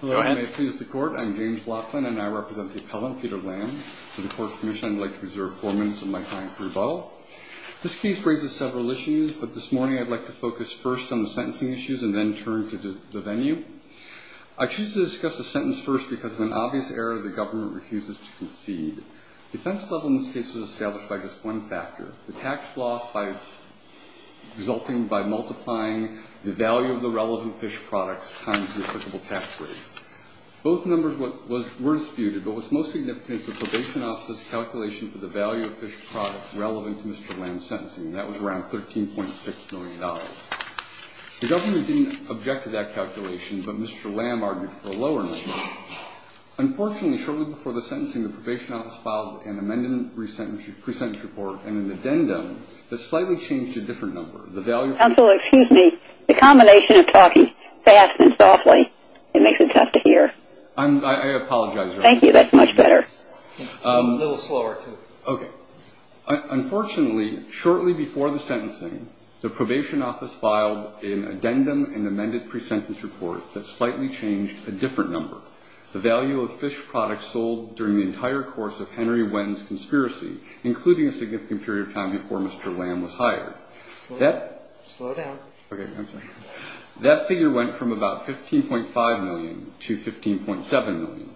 Hello and may it please the court, I'm James Laughlin and I represent the appellant Peter Lam. With the court's permission, I'd like to reserve four minutes of my time for rebuttal. This case raises several issues, but this morning I'd like to focus first on the sentencing issues and then turn to the venue. I choose to discuss the sentence first because in an obvious error the government refuses to concede. Defense level in this case was established by just one factor. The tax loss resulting by multiplying the value of the relevant fish products times the applicable tax rate. Both numbers were disputed, but what's most significant is the probation office's calculation for the value of fish products relevant to Mr. Lam's sentencing. That was around $13.6 million. The government didn't object to that calculation, but Mr. Lam argued for a lower number. Unfortunately, shortly before the sentencing, the probation office filed an amended pre-sentence report and an addendum that slightly changed a different number. Counsel, excuse me, the combination of talking fast and softly, it makes it tough to hear. I apologize. Thank you, that's much better. A little slower too. Okay, unfortunately, shortly before the sentencing, the probation office filed an addendum and amended pre-sentence report that slightly changed a different number. The value of fish products sold during the entire course of Henry Wend's conspiracy, including a significant period of time before Mr. Lam was hired. Slow down. Okay, I'm sorry. That figure went from about $15.5 million to $15.7 million.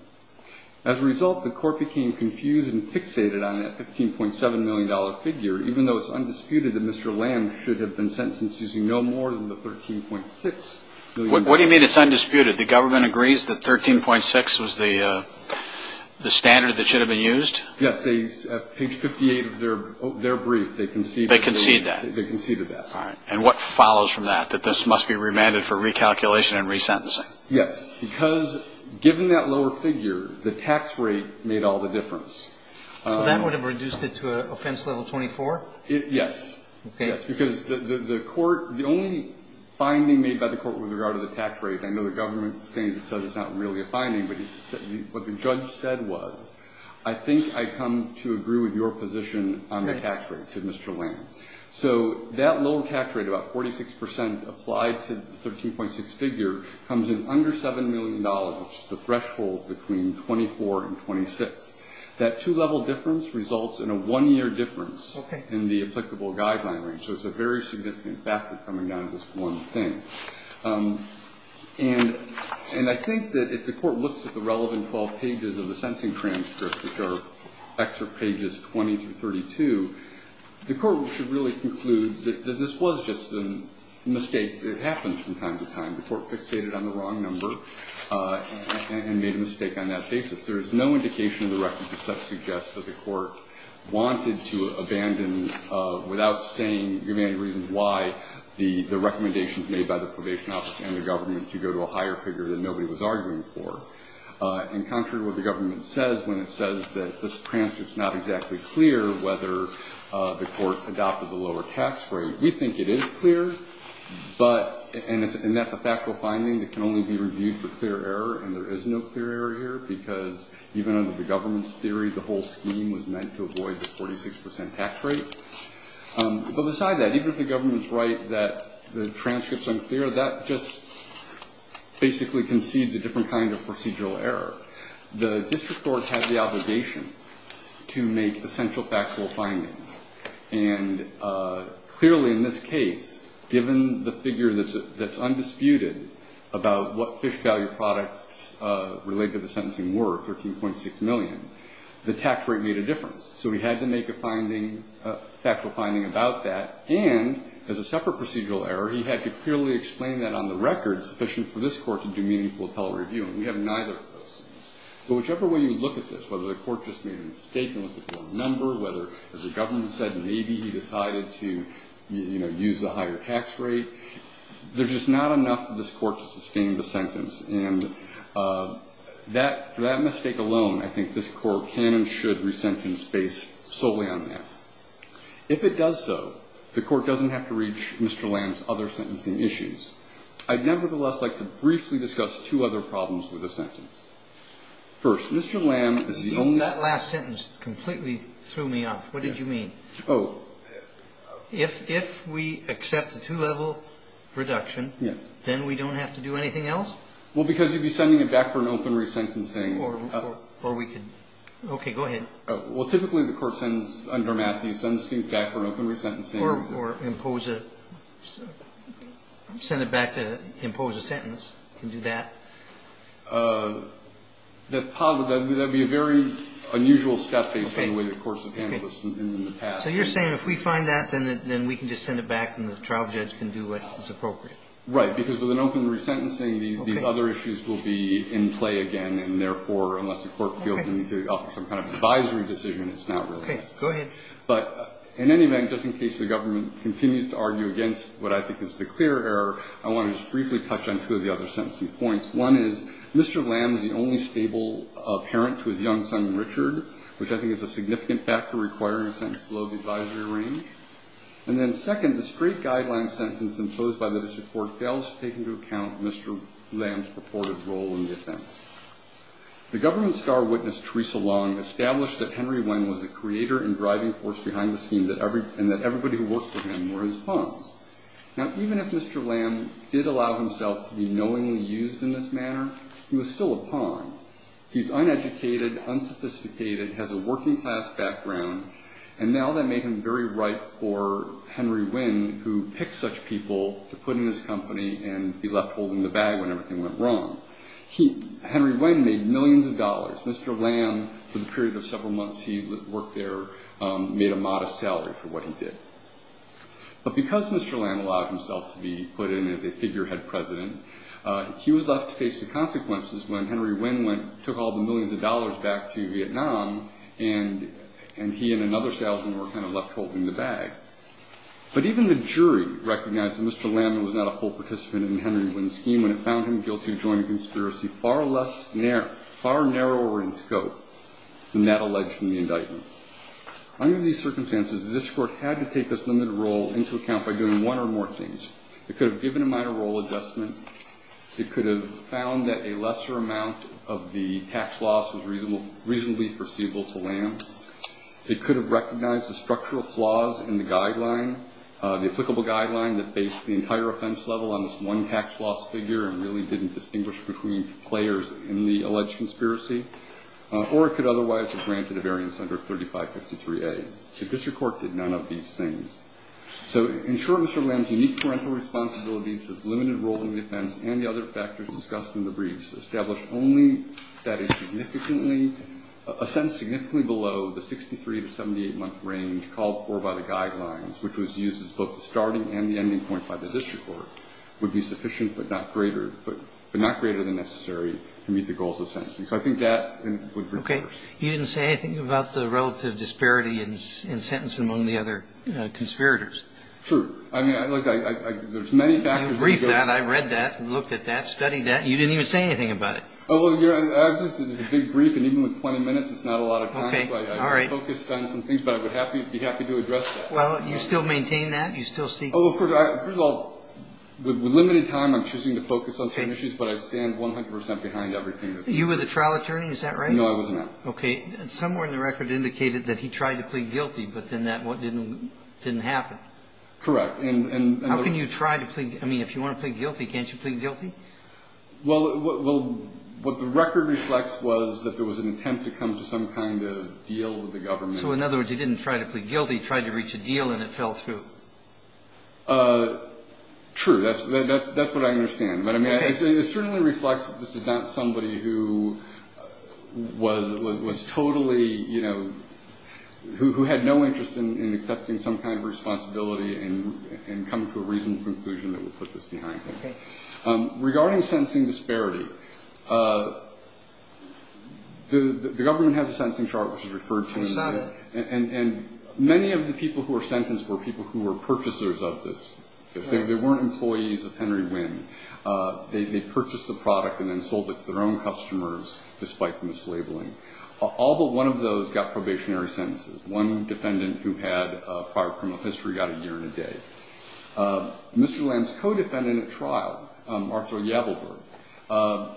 As a result, the court became confused and fixated on that $15.7 million figure, even though it's undisputed that Mr. Lam should have been sentenced using no more than the $13.6 million. What do you mean it's undisputed? The government agrees that $13.6 was the standard that should have been used? Yes, at page 58 of their brief, they conceded that. They conceded that. All right. And what follows from that, that this must be remanded for recalculation and resentencing? Yes, because given that lower figure, the tax rate made all the difference. That would have reduced it to an offense level 24? Yes. Okay. Because the court, the only finding made by the court with regard to the tax rate, I know the government says it's not really a finding, but what the judge said was I think I come to agree with your position on the tax rate to Mr. Lam. So that lower tax rate, about 46 percent applied to the 13.6 figure, comes in under $7 million, which is a threshold between 24 and 26. That two-level difference results in a one-year difference in the applicable guideline range. So it's a very significant factor coming down to this one thing. And I think that if the court looks at the relevant 12 pages of the sentencing transcript, which are excerpt pages 20 through 32, the court should really conclude that this was just a mistake. It happens from time to time. The court fixated on the wrong number and made a mistake on that basis. There is no indication in the record to suggest that the court wanted to abandon, without saying, giving any reason why, the recommendations made by the probation office and the government to go to a higher figure that nobody was arguing for. And contrary to what the government says when it says that this transcript is not exactly clear whether the court adopted the lower tax rate, we think it is clear. But, and that's a factual finding that can only be reviewed for clear error, and there is no clear error here. Because even under the government's theory, the whole scheme was meant to avoid the 46% tax rate. But beside that, even if the government's right that the transcript's unclear, that just basically concedes a different kind of procedural error. The district court had the obligation to make essential factual findings. And clearly in this case, given the figure that's undisputed about what fish value products related to the sentencing were, 13.6 million, the tax rate made a difference. So he had to make a finding, a factual finding about that. And as a separate procedural error, he had to clearly explain that on the record sufficient for this court to do meaningful appellate review. And we have neither of those. But whichever way you look at this, whether the court just made a mistake and looked at one number, whether, as the government said, maybe he decided to, you know, use the higher tax rate, there's just not enough of this court to sustain the sentence. And that, for that mistake alone, I think this court can and should resentence based solely on that. If it does so, the court doesn't have to reach Mr. Lamb's other sentencing issues. I'd nevertheless like to briefly discuss two other problems with the sentence. First, Mr. Lamb is the only. That last sentence completely threw me off. What did you mean? Oh. If we accept the two-level reduction. Yes. Then we don't have to do anything else? Well, because you'd be sending it back for an open resentencing. Or we could. Okay. Go ahead. Well, typically the court sends under Matthew sends things back for an open resentencing. Or impose a, send it back to impose a sentence. We can do that. That would be a very unusual step based on the way the courts have handled this in the past. So you're saying if we find that, then we can just send it back and the trial judge can do what is appropriate? Right. Because with an open resentencing, these other issues will be in play again, and therefore, unless the court feels they need to offer some kind of advisory decision, it's not realistic. Go ahead. In any event, just in case the government continues to argue against what I think is the clear error, I want to just briefly touch on two of the other sentencing points. One is Mr. Lamb is the only stable parent to his young son, Richard, which I think is a significant factor requiring a sentence below the advisory range. And then second, the straight guideline sentence imposed by the district court fails to take into account Mr. Lamb's purported role in the offense. The government star witness, Theresa Long, established that Henry Wynn was the creator and driving force behind the scheme and that everybody who worked for him were his pawns. Now, even if Mr. Lamb did allow himself to be knowingly used in this manner, he was still a pawn. He's uneducated, unsophisticated, has a working class background, and now that made him very ripe for Henry Wynn, who picked such people to put in his company and be left holding the bag when everything went wrong. Henry Wynn made millions of dollars. Mr. Lamb, for the period of several months he worked there, made a modest salary for what he did. But because Mr. Lamb allowed himself to be put in as a figurehead president, he was left to face the consequences when Henry Wynn took all the millions of dollars back to Vietnam and he and another salesman were kind of left holding the bag. But even the jury recognized that Mr. Lamb was not a full participant in the Henry Wynn scheme when it found him guilty of joining a conspiracy far narrower in scope than that alleged in the indictment. Under these circumstances, this court had to take this limited role into account by doing one or more things. It could have given a minor role adjustment. It could have found that a lesser amount of the tax loss was reasonably foreseeable to Lamb. It could have recognized the structural flaws in the guideline, the applicable guideline that based the entire offense level on this one tax loss figure and really didn't distinguish between players in the alleged conspiracy. Or it could otherwise have granted a variance under 3553A. The district court did none of these things. So in short, Mr. Lamb's unique parental responsibilities, his limited role in the defense, and the other factors discussed in the briefs established only that he significantly below the 63- to 78-month range called for by the guidelines, which was used as both the starting and the ending point by the district court, would be sufficient but not greater than necessary to meet the goals of sentencing. So I think that would be fair. Okay. You didn't say anything about the relative disparity in sentencing among the other conspirators. True. I mean, like, there's many factors. You briefed that. I read that and looked at that, studied that. You didn't even say anything about it. It's a big brief, and even with 20 minutes, it's not a lot of time. So I focused on some things, but I would be happy to address that. Well, you still maintain that? Oh, of course. First of all, with limited time, I'm choosing to focus on certain issues, but I stand 100 percent behind everything. You were the trial attorney. Is that right? No, I wasn't. Okay. Somewhere in the record indicated that he tried to plead guilty, but then that didn't happen. Correct. How can you try to plead? I mean, if you want to plead guilty, can't you plead guilty? Well, what the record reflects was that there was an attempt to come to some kind of deal with the government. So, in other words, he didn't try to plead guilty. He tried to reach a deal, and it fell through. True. That's what I understand. But, I mean, it certainly reflects that this is not somebody who was totally, you know, who had no interest in accepting some kind of responsibility and come to a reasonable conclusion that would put this behind him. Okay. Regarding sentencing disparity, the government has a sentencing chart, which is referred to. I saw that. And many of the people who were sentenced were people who were purchasers of this. They weren't employees of Henry Wynn. They purchased the product and then sold it to their own customers, despite the mislabeling. All but one of those got probationary sentences. One defendant who had prior criminal history got a year and a day. Mr. Lamb's co-defendant at trial, Arthur Yabelberg.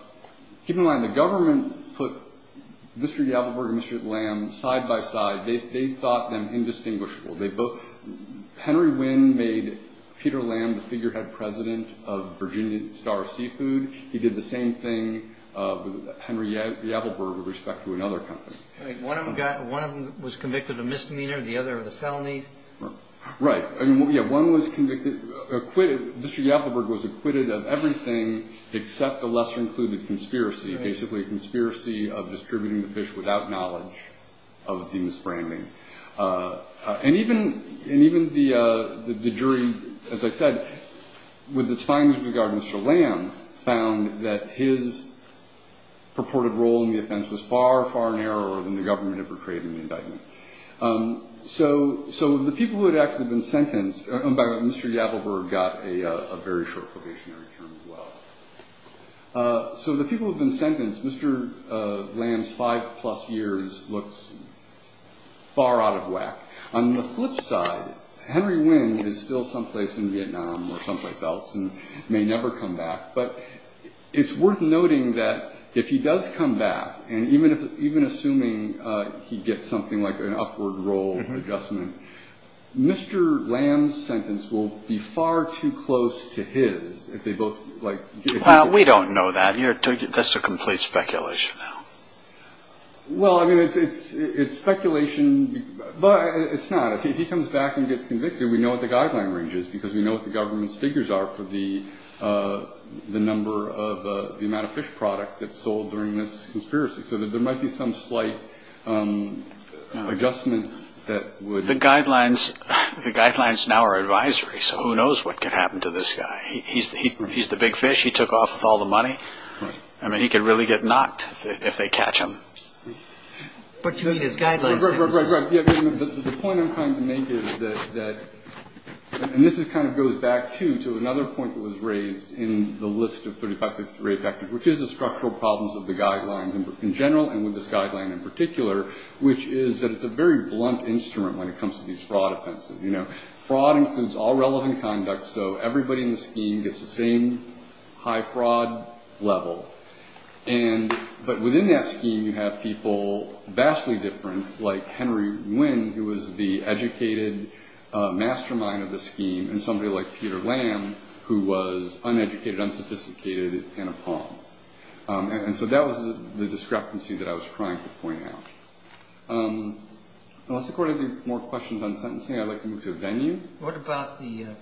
Keep in mind, the government put Mr. Yabelberg and Mr. Lamb side by side. They thought them indistinguishable. Henry Wynn made Peter Lamb the figurehead president of Virginia Star Seafood. He did the same thing with Henry Yabelberg with respect to another company. One of them was convicted of misdemeanor, the other of the felony. Right. Yeah, one was convicted, acquitted. Mr. Yabelberg was acquitted of everything except the lesser-included conspiracy, basically a conspiracy of distributing the fish without knowledge of the misbranding. And even the jury, as I said, with its findings regarding Mr. Lamb, found that his purported role in the offense was far, far narrower than the government had portrayed in the indictment. So the people who had actually been sentenced by Mr. Yabelberg got a very short probationary term as well. So the people who had been sentenced, Mr. Lamb's five-plus years looks far out of whack. On the flip side, Henry Wynn is still someplace in Vietnam or someplace else and may never come back. But it's worth noting that if he does come back, and even assuming he gets something like an upward roll adjustment, Mr. Lamb's sentence will be far too close to his if they both get convicted. Well, we don't know that. That's a complete speculation now. Well, I mean, it's speculation, but it's not. If he comes back and gets convicted, we know what the guideline range is because we know what the government's figures are for the number of the amount of fish product that's sold during this conspiracy. So there might be some slight adjustment that would... The guidelines now are advisory, so who knows what could happen to this guy. He's the big fish. He took off with all the money. I mean, he could really get knocked if they catch him. But you mean his guidelines... Right, right, right. And to another point that was raised in the list of 35 to 38 factors, which is the structural problems of the guidelines in general and with this guideline in particular, which is that it's a very blunt instrument when it comes to these fraud offenses. Fraud includes all relevant conduct, so everybody in the scheme gets the same high fraud level. But within that scheme, you have people vastly different, like Henry Nguyen, who was the educated mastermind of the scheme, and somebody like Peter Lamb, who was uneducated, unsophisticated, and a palm. And so that was the discrepancy that I was trying to point out. Unless the Court has any more questions on sentencing, I'd like to move to a venue. What about the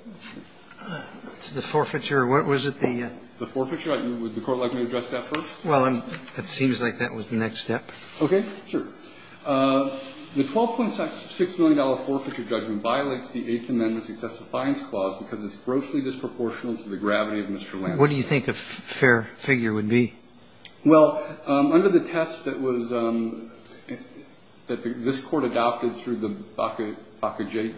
forfeiture? What was it, the... The forfeiture? Would the Court like me to address that first? Well, it seems like that was the next step. Okay, sure. The $12.6 million forfeiture judgment violates the Eighth Amendment's excessive fines clause because it's grossly disproportional to the gravity of Mr. Lamb's case. What do you think a fair figure would be? Well, under the test that was – that this Court adopted through the Bakajian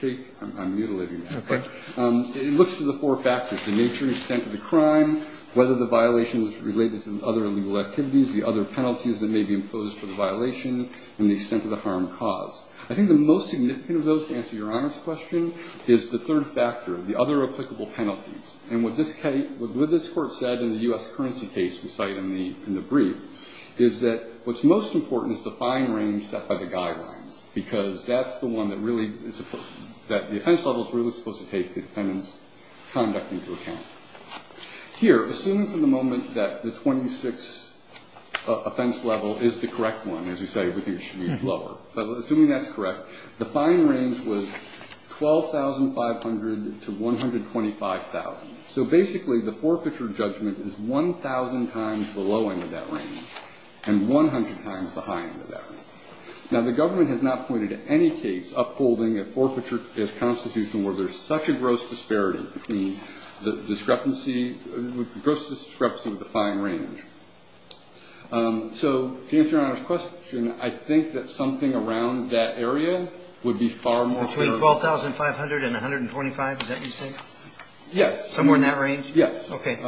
case – I'm mutilating that, okay – it looks to the four factors, the nature, extent of the crime, whether the violation was related to other illegal activities, the other penalties that may be imposed for the violation, and the extent of the harm caused. I think the most significant of those, to answer your honest question, is the third factor, the other applicable penalties. And what this case – what this Court said in the U.S. currency case we cite in the brief is that what's most important is the fine range set by the guidelines because that's the one that really is – that the offense level is really supposed to take the defendant's conduct into account. Here, assuming for the moment that the 26 offense level is the correct one, as you say, we think it should be lower. But assuming that's correct, the fine range was 12,500 to 125,000. So basically, the forfeiture judgment is 1,000 times the low end of that range and 100 times the high end of that range. Now, the government has not pointed to any case upholding a forfeiture as constitutional where there's such a gross disparity between the discrepancy – gross discrepancy with the fine range. So, to answer your honest question, I think that something around that area would be far more – Between 12,500 and 125, is that what you're saying? Yes. Somewhere in that range? Yes. Okay.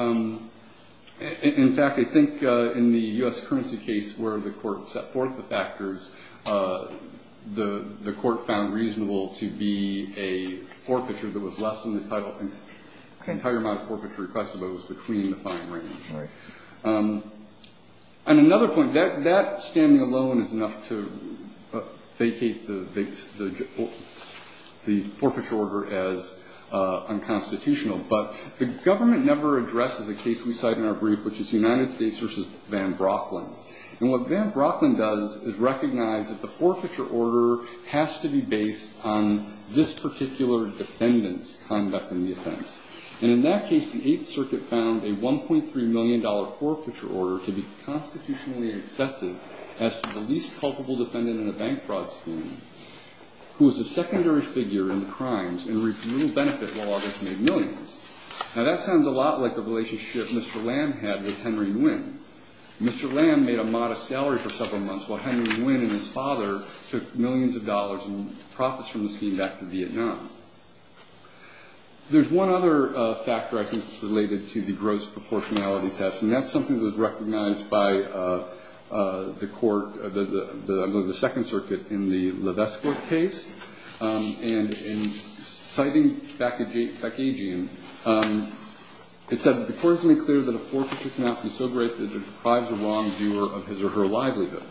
In fact, I think in the U.S. currency case where the Court set forth the factors, the Court found reasonable to be a forfeiture that was less than the title. Okay. Entire amount of forfeiture requested, but it was between the fine range. Right. And another point. That standing alone is enough to vacate the forfeiture order as unconstitutional. But the government never addresses a case we cite in our brief, which is United States v. Van Brocklin. And what Van Brocklin does is recognize that the forfeiture order has to be based on this particular defendant's conduct in the offense. And in that case, the Eighth Circuit found a $1.3 million forfeiture order to be constitutionally excessive as to the least culpable defendant in a bank fraud scheme who was a secondary figure in the crimes and reaped little benefit while others made millions. Now, that sounds a lot like the relationship Mr. Lamb had with Henry Nguyen. Mr. Lamb made a modest salary for several months while Henry Nguyen and his father took millions of dollars in profits from the scheme back to Vietnam. There's one other factor I think that's related to the gross proportionality test, and that's something that was recognized by the Court, I believe the Second Circuit, in the Levesque Court case. And in citing Backagean, it said, The Court has made clear that a forfeiture cannot be so great that it deprives a wrongdoer of his or her livelihood.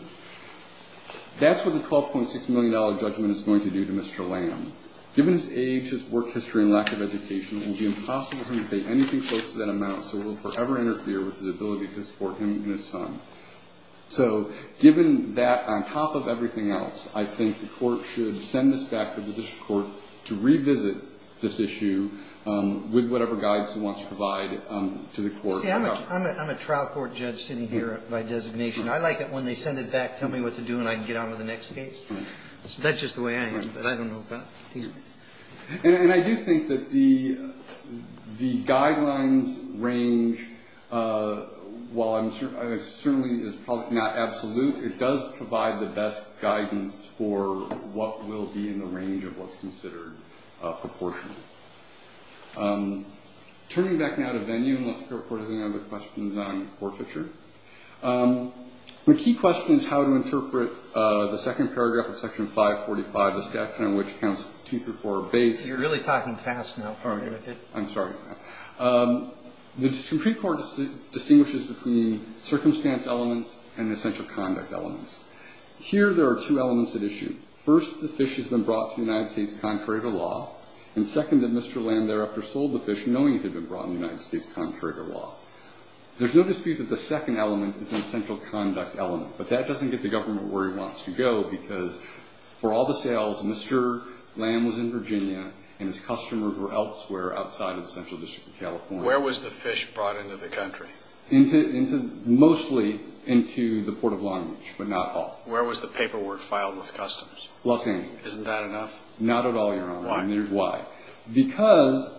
That's what the $12.6 million judgment is going to do to Mr. Lamb. Given his age, his work history, and lack of education, it will be impossible for him to pay anything close to that amount, so it will forever interfere with his ability to support him and his son. So given that, on top of everything else, I think the Court should send this back to the Judicial Court to revisit this issue with whatever guidance it wants to provide to the Court. See, I'm a trial court judge sitting here by designation. I like it when they send it back, tell me what to do, and I can get on with the next case. That's just the way I am, but I don't know about these things. And I do think that the guidelines range, while it certainly is probably not absolute, it does provide the best guidance for what will be in the range of what's considered proportional. Turning back now to venue, unless the Court has any other questions on forfeiture. The key question is how to interpret the second paragraph of Section 545, the statute on which counts two through four base. You're really talking fast now. I'm sorry. The Supreme Court distinguishes between circumstance elements and essential conduct elements. Here, there are two elements at issue. First, the fish has been brought to the United States contrary to law, and second, that Mr. Lamb thereafter sold the fish knowing it had been brought to the United States contrary to law. There's no dispute that the second element is an essential conduct element, but that doesn't get the government where it wants to go, because for all the sales, Mr. Lamb was in Virginia, and his customers were elsewhere outside of the Central District of California. Where was the fish brought into the country? Mostly into the Port of Long Beach, but not all. Where was the paperwork filed with customers? Los Angeles. Isn't that enough? Not at all, Your Honor. Why? And here's why. Because,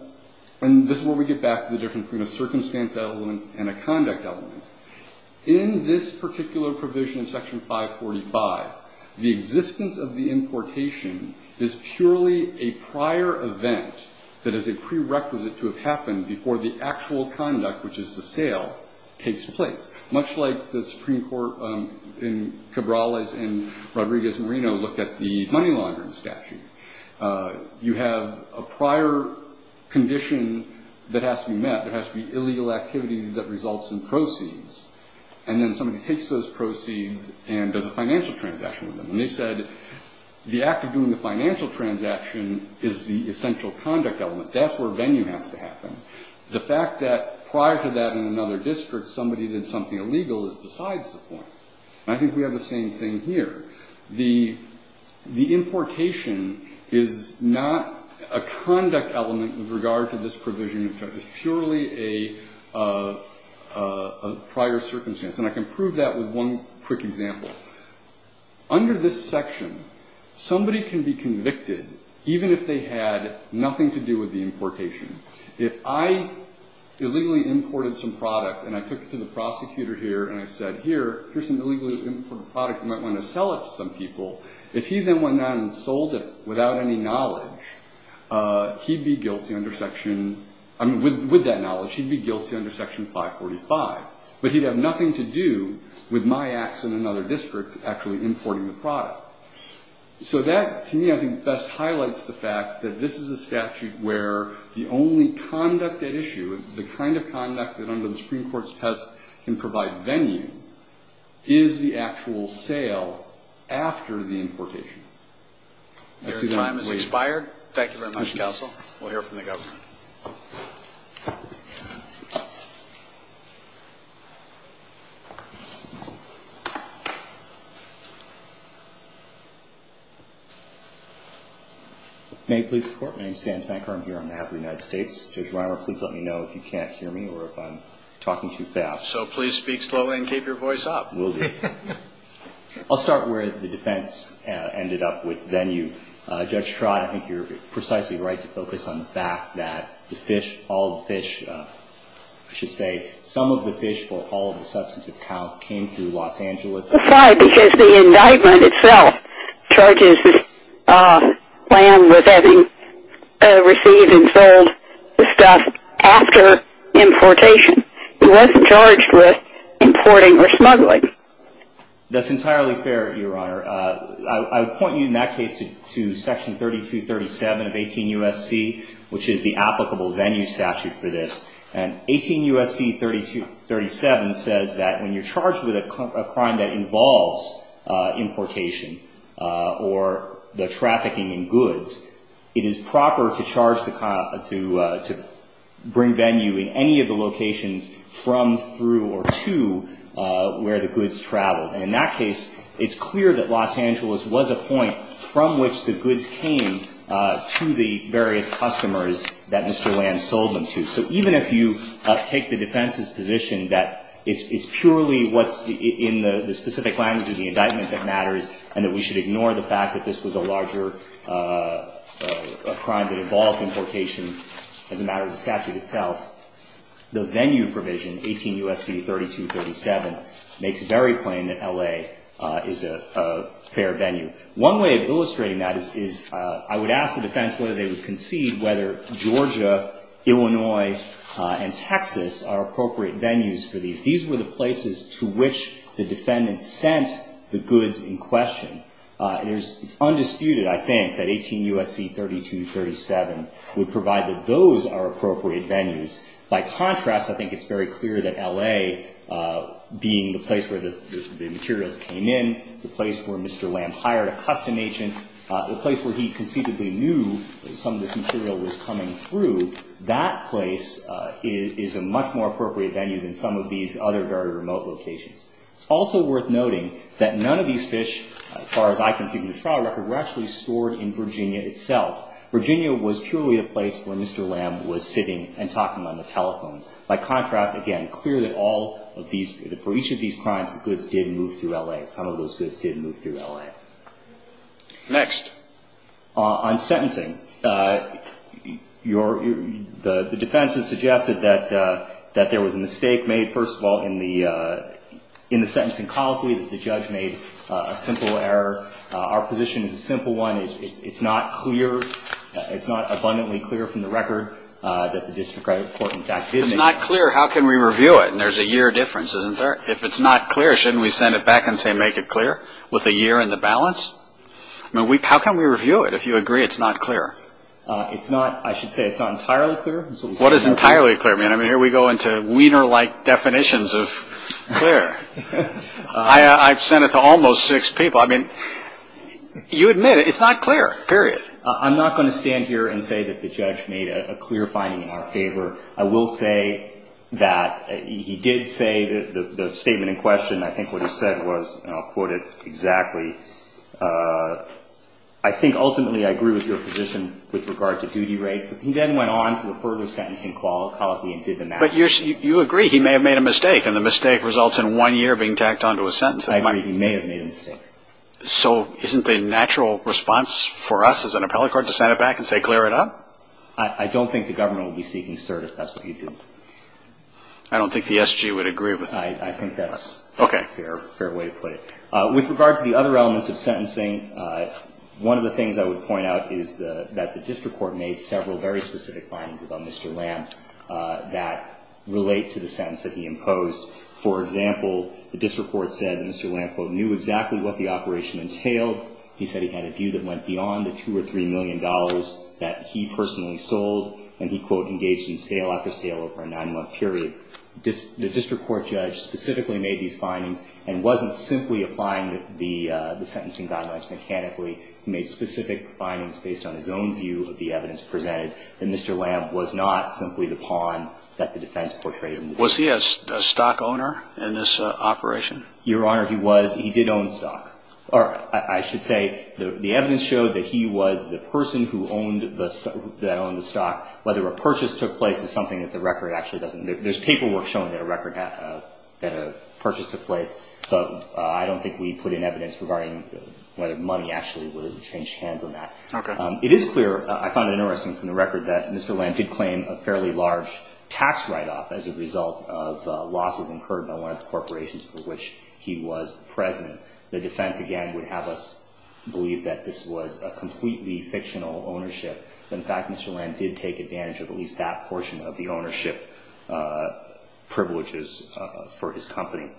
and this is where we get back to the difference between a circumstance element and a conduct element. In this particular provision in Section 545, the existence of the importation is purely a prior event that is a prerequisite to have happened before the actual conduct, which is the sale, takes place, much like the Supreme Court in Cabrales and Rodriguez and Reno looked at the money laundering statute. You have a prior condition that has to be met. There has to be illegal activity that results in proceeds. And then somebody takes those proceeds and does a financial transaction with them. And they said the act of doing the financial transaction is the essential conduct element. That's where venue has to happen. The fact that prior to that in another district, somebody did something illegal is besides the point. And I think we have the same thing here. The importation is not a conduct element with regard to this provision in effect. It's purely a prior circumstance. And I can prove that with one quick example. Under this section, somebody can be convicted even if they had nothing to do with the importation. If I illegally imported some product and I took it to the prosecutor here and I said, here, here's some illegally imported product. You might want to sell it to some people. If he then went out and sold it without any knowledge, he'd be guilty under Section – I mean, with that knowledge, he'd be guilty under Section 545. But he'd have nothing to do with my acts in another district actually importing the product. So that, to me, I think best highlights the fact that this is a statute where the only conduct at issue, the kind of conduct that under the Supreme Court's test can provide venue, is the actual sale after the importation. Your time has expired. Thank you very much, counsel. We'll hear from the governor. May I please report? My name is Sam Sankar. I'm here on behalf of the United States. Judge Reimer, please let me know if you can't hear me or if I'm talking too fast. So please speak slowly and keep your voice up. Will do. I'll start where the defense ended up with venue. Judge Trott, I think you're precisely right to focus on the fact that the fish, all the fish, I should say some of the fish for all of the substantive counts came through Los Angeles. Because the indictment itself charges the land with having received and sold the stuff after importation. It wasn't charged with importing or smuggling. That's entirely fair, Your Honor. I would point you in that case to Section 3237 of 18 U.S.C., which is the applicable venue statute for this. And 18 U.S.C. 3237 says that when you're charged with a crime that involves importation or the trafficking in goods, it is proper to bring venue in any of the locations from, through, or to where the goods traveled. And in that case, it's clear that Los Angeles was a point from which the goods came to the various customers that Mr. Land sold them to. So even if you take the defense's position that it's purely what's in the specific language of the indictment that matters and that we should ignore the fact that this was a larger crime that involved importation as a matter of the statute itself, the venue provision, 18 U.S.C. 3237, makes very plain that L.A. is a fair venue. One way of illustrating that is I would ask the defense whether they would concede whether Georgia, Illinois, and Texas are appropriate venues for these. These were the places to which the defendant sent the goods in question. It's undisputed, I think, that 18 U.S.C. 3237 would provide that those are appropriate venues. By contrast, I think it's very clear that L.A. being the place where the materials came in, the place where Mr. Land hired a custom agent, the place where he conceivably knew that some of this material was coming through, that place is a much more appropriate venue than some of these other very remote locations. It's also worth noting that none of these fish, as far as I can see from the trial record, were actually stored in Virginia itself. Virginia was purely a place where Mr. Land was sitting and talking on the telephone. By contrast, again, clear that for each of these crimes, the goods did move through L.A. Some of those goods did move through L.A. Next. On sentencing, the defense has suggested that there was a mistake made, first of all, in the sentencing colloquy that the judge made a simple error. Our position is a simple one. It's not clear. It's not abundantly clear from the record that the district court, in fact, did make a mistake. If it's not clear, how can we review it? And there's a year difference, isn't there? If it's not clear, shouldn't we send it back and say make it clear with a year in the balance? I mean, how can we review it if you agree it's not clear? It's not, I should say, it's not entirely clear. What is entirely clear? I mean, here we go into wiener-like definitions of clear. I've sent it to almost six people. I mean, you admit it. It's not clear, period. I'm not going to stand here and say that the judge made a clear finding in our favor. I will say that he did say the statement in question. I think what he said was, and I'll quote it exactly, I think ultimately I agree with your position with regard to duty rate. He then went on to a further sentencing colloquy and did the math. But you agree he may have made a mistake, and the mistake results in one year being tacked onto a sentence. I agree he may have made a mistake. So isn't the natural response for us as an appellate court to send it back and say clear it up? I don't think the government will be seeking cert if that's what you do. I don't think the SG would agree with that. I think that's a fair way to put it. Okay. With regard to the other elements of sentencing, one of the things I would point out is that the district court made several very specific findings about Mr. Lamb that relate to the sentence that he imposed. For example, the district court said Mr. Lamb, quote, knew exactly what the operation entailed. He said he had a view that went beyond the $2 or $3 million that he personally sold, and he, quote, engaged in sale after sale over a nine-month period. The district court judge specifically made these findings and wasn't simply applying the sentencing guidelines mechanically. He made specific findings based on his own view of the evidence presented that Mr. Lamb was not simply the pawn that the defense portrayed him to be. Was he a stock owner in this operation? Your Honor, he was. I should say the evidence showed that he was the person that owned the stock. Whether a purchase took place is something that the record actually doesn't know. There's paperwork showing that a purchase took place, but I don't think we put in evidence regarding whether money actually changed hands on that. Okay. It is clear, I find it interesting from the record, that Mr. Lamb did claim a fairly large tax write-off as a result of losses incurred by one of the corporations for which he was the president. The defense, again, would have us believe that this was a completely fictional ownership. In fact, Mr. Lamb did take advantage of at least that portion of the ownership privileges for his company.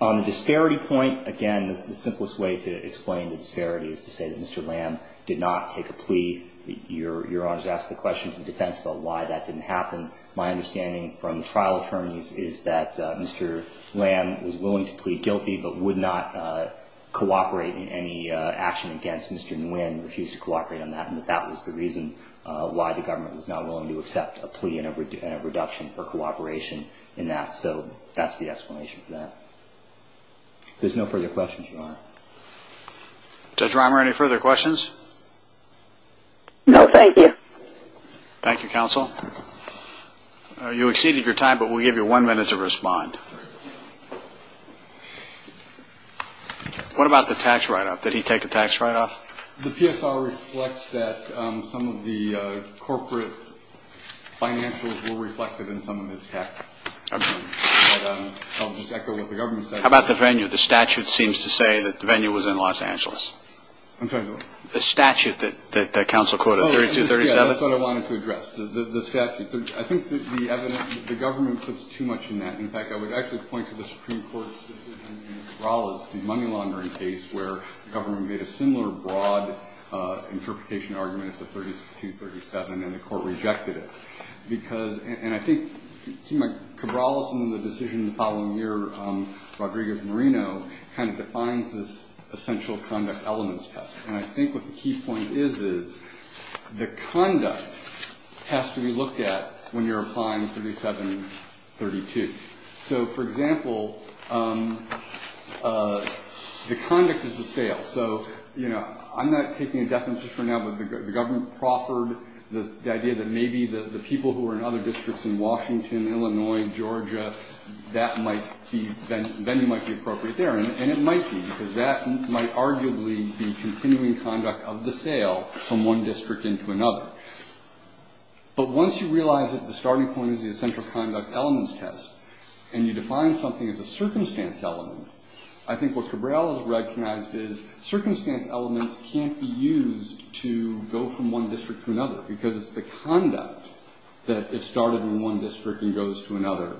On the disparity point, again, the simplest way to explain the disparity is to say that Mr. Lamb did not take a plea. Your Honor has asked the question from the defense about why that didn't happen. My understanding from the trial attorneys is that Mr. Lamb was willing to plead guilty, but would not cooperate in any action against Mr. Nguyen, refused to cooperate on that, and that that was the reason why the government was not willing to accept a plea and a reduction for cooperation in that. So that's the explanation for that. If there's no further questions, Your Honor. Judge Reimer, any further questions? No, thank you. Thank you, counsel. You exceeded your time, but we'll give you one minute to respond. What about the tax write-off? Did he take a tax write-off? The PSR reflects that some of the corporate financials were reflected in some of his tax returns. I'll just echo what the government said. How about the venue? The statute seems to say that the venue was in Los Angeles. The statute that counsel quoted, 3237? That's what I wanted to address, the statute. I think the government puts too much in that. In fact, I would actually point to the Supreme Court's decision in Cabrales, the money laundering case, where the government made a similar broad interpretation argument. It's a 3237, and the court rejected it. And I think Cabrales in the decision the following year, Rodriguez-Marino, kind of defines this essential conduct elements test. And I think what the key point is, is the conduct has to be looked at when you're applying 3732. So, for example, the conduct is a sale. So, you know, I'm not taking a definition right now, but the government proffered the idea that maybe the people who are in other districts in Washington, Illinois, Georgia, that might be appropriate there. And it might be, because that might arguably be continuing conduct of the sale from one district into another. But once you realize that the starting point is the essential conduct elements test, and you define something as a circumstance element, I think what Cabrales recognized is circumstance elements can't be used to go from one district to another, because it's the conduct that is started in one district and goes to another,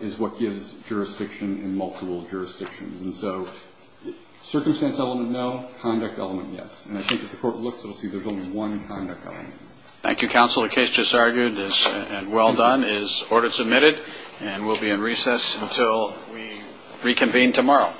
is what gives jurisdiction in multiple jurisdictions. And so circumstance element, no. Conduct element, yes. And I think if the court looks, it'll see there's only one conduct element. Thank you, counsel. The case just argued is well done, is order submitted, and we'll be in recess until we reconvene tomorrow. Thank you, counsel.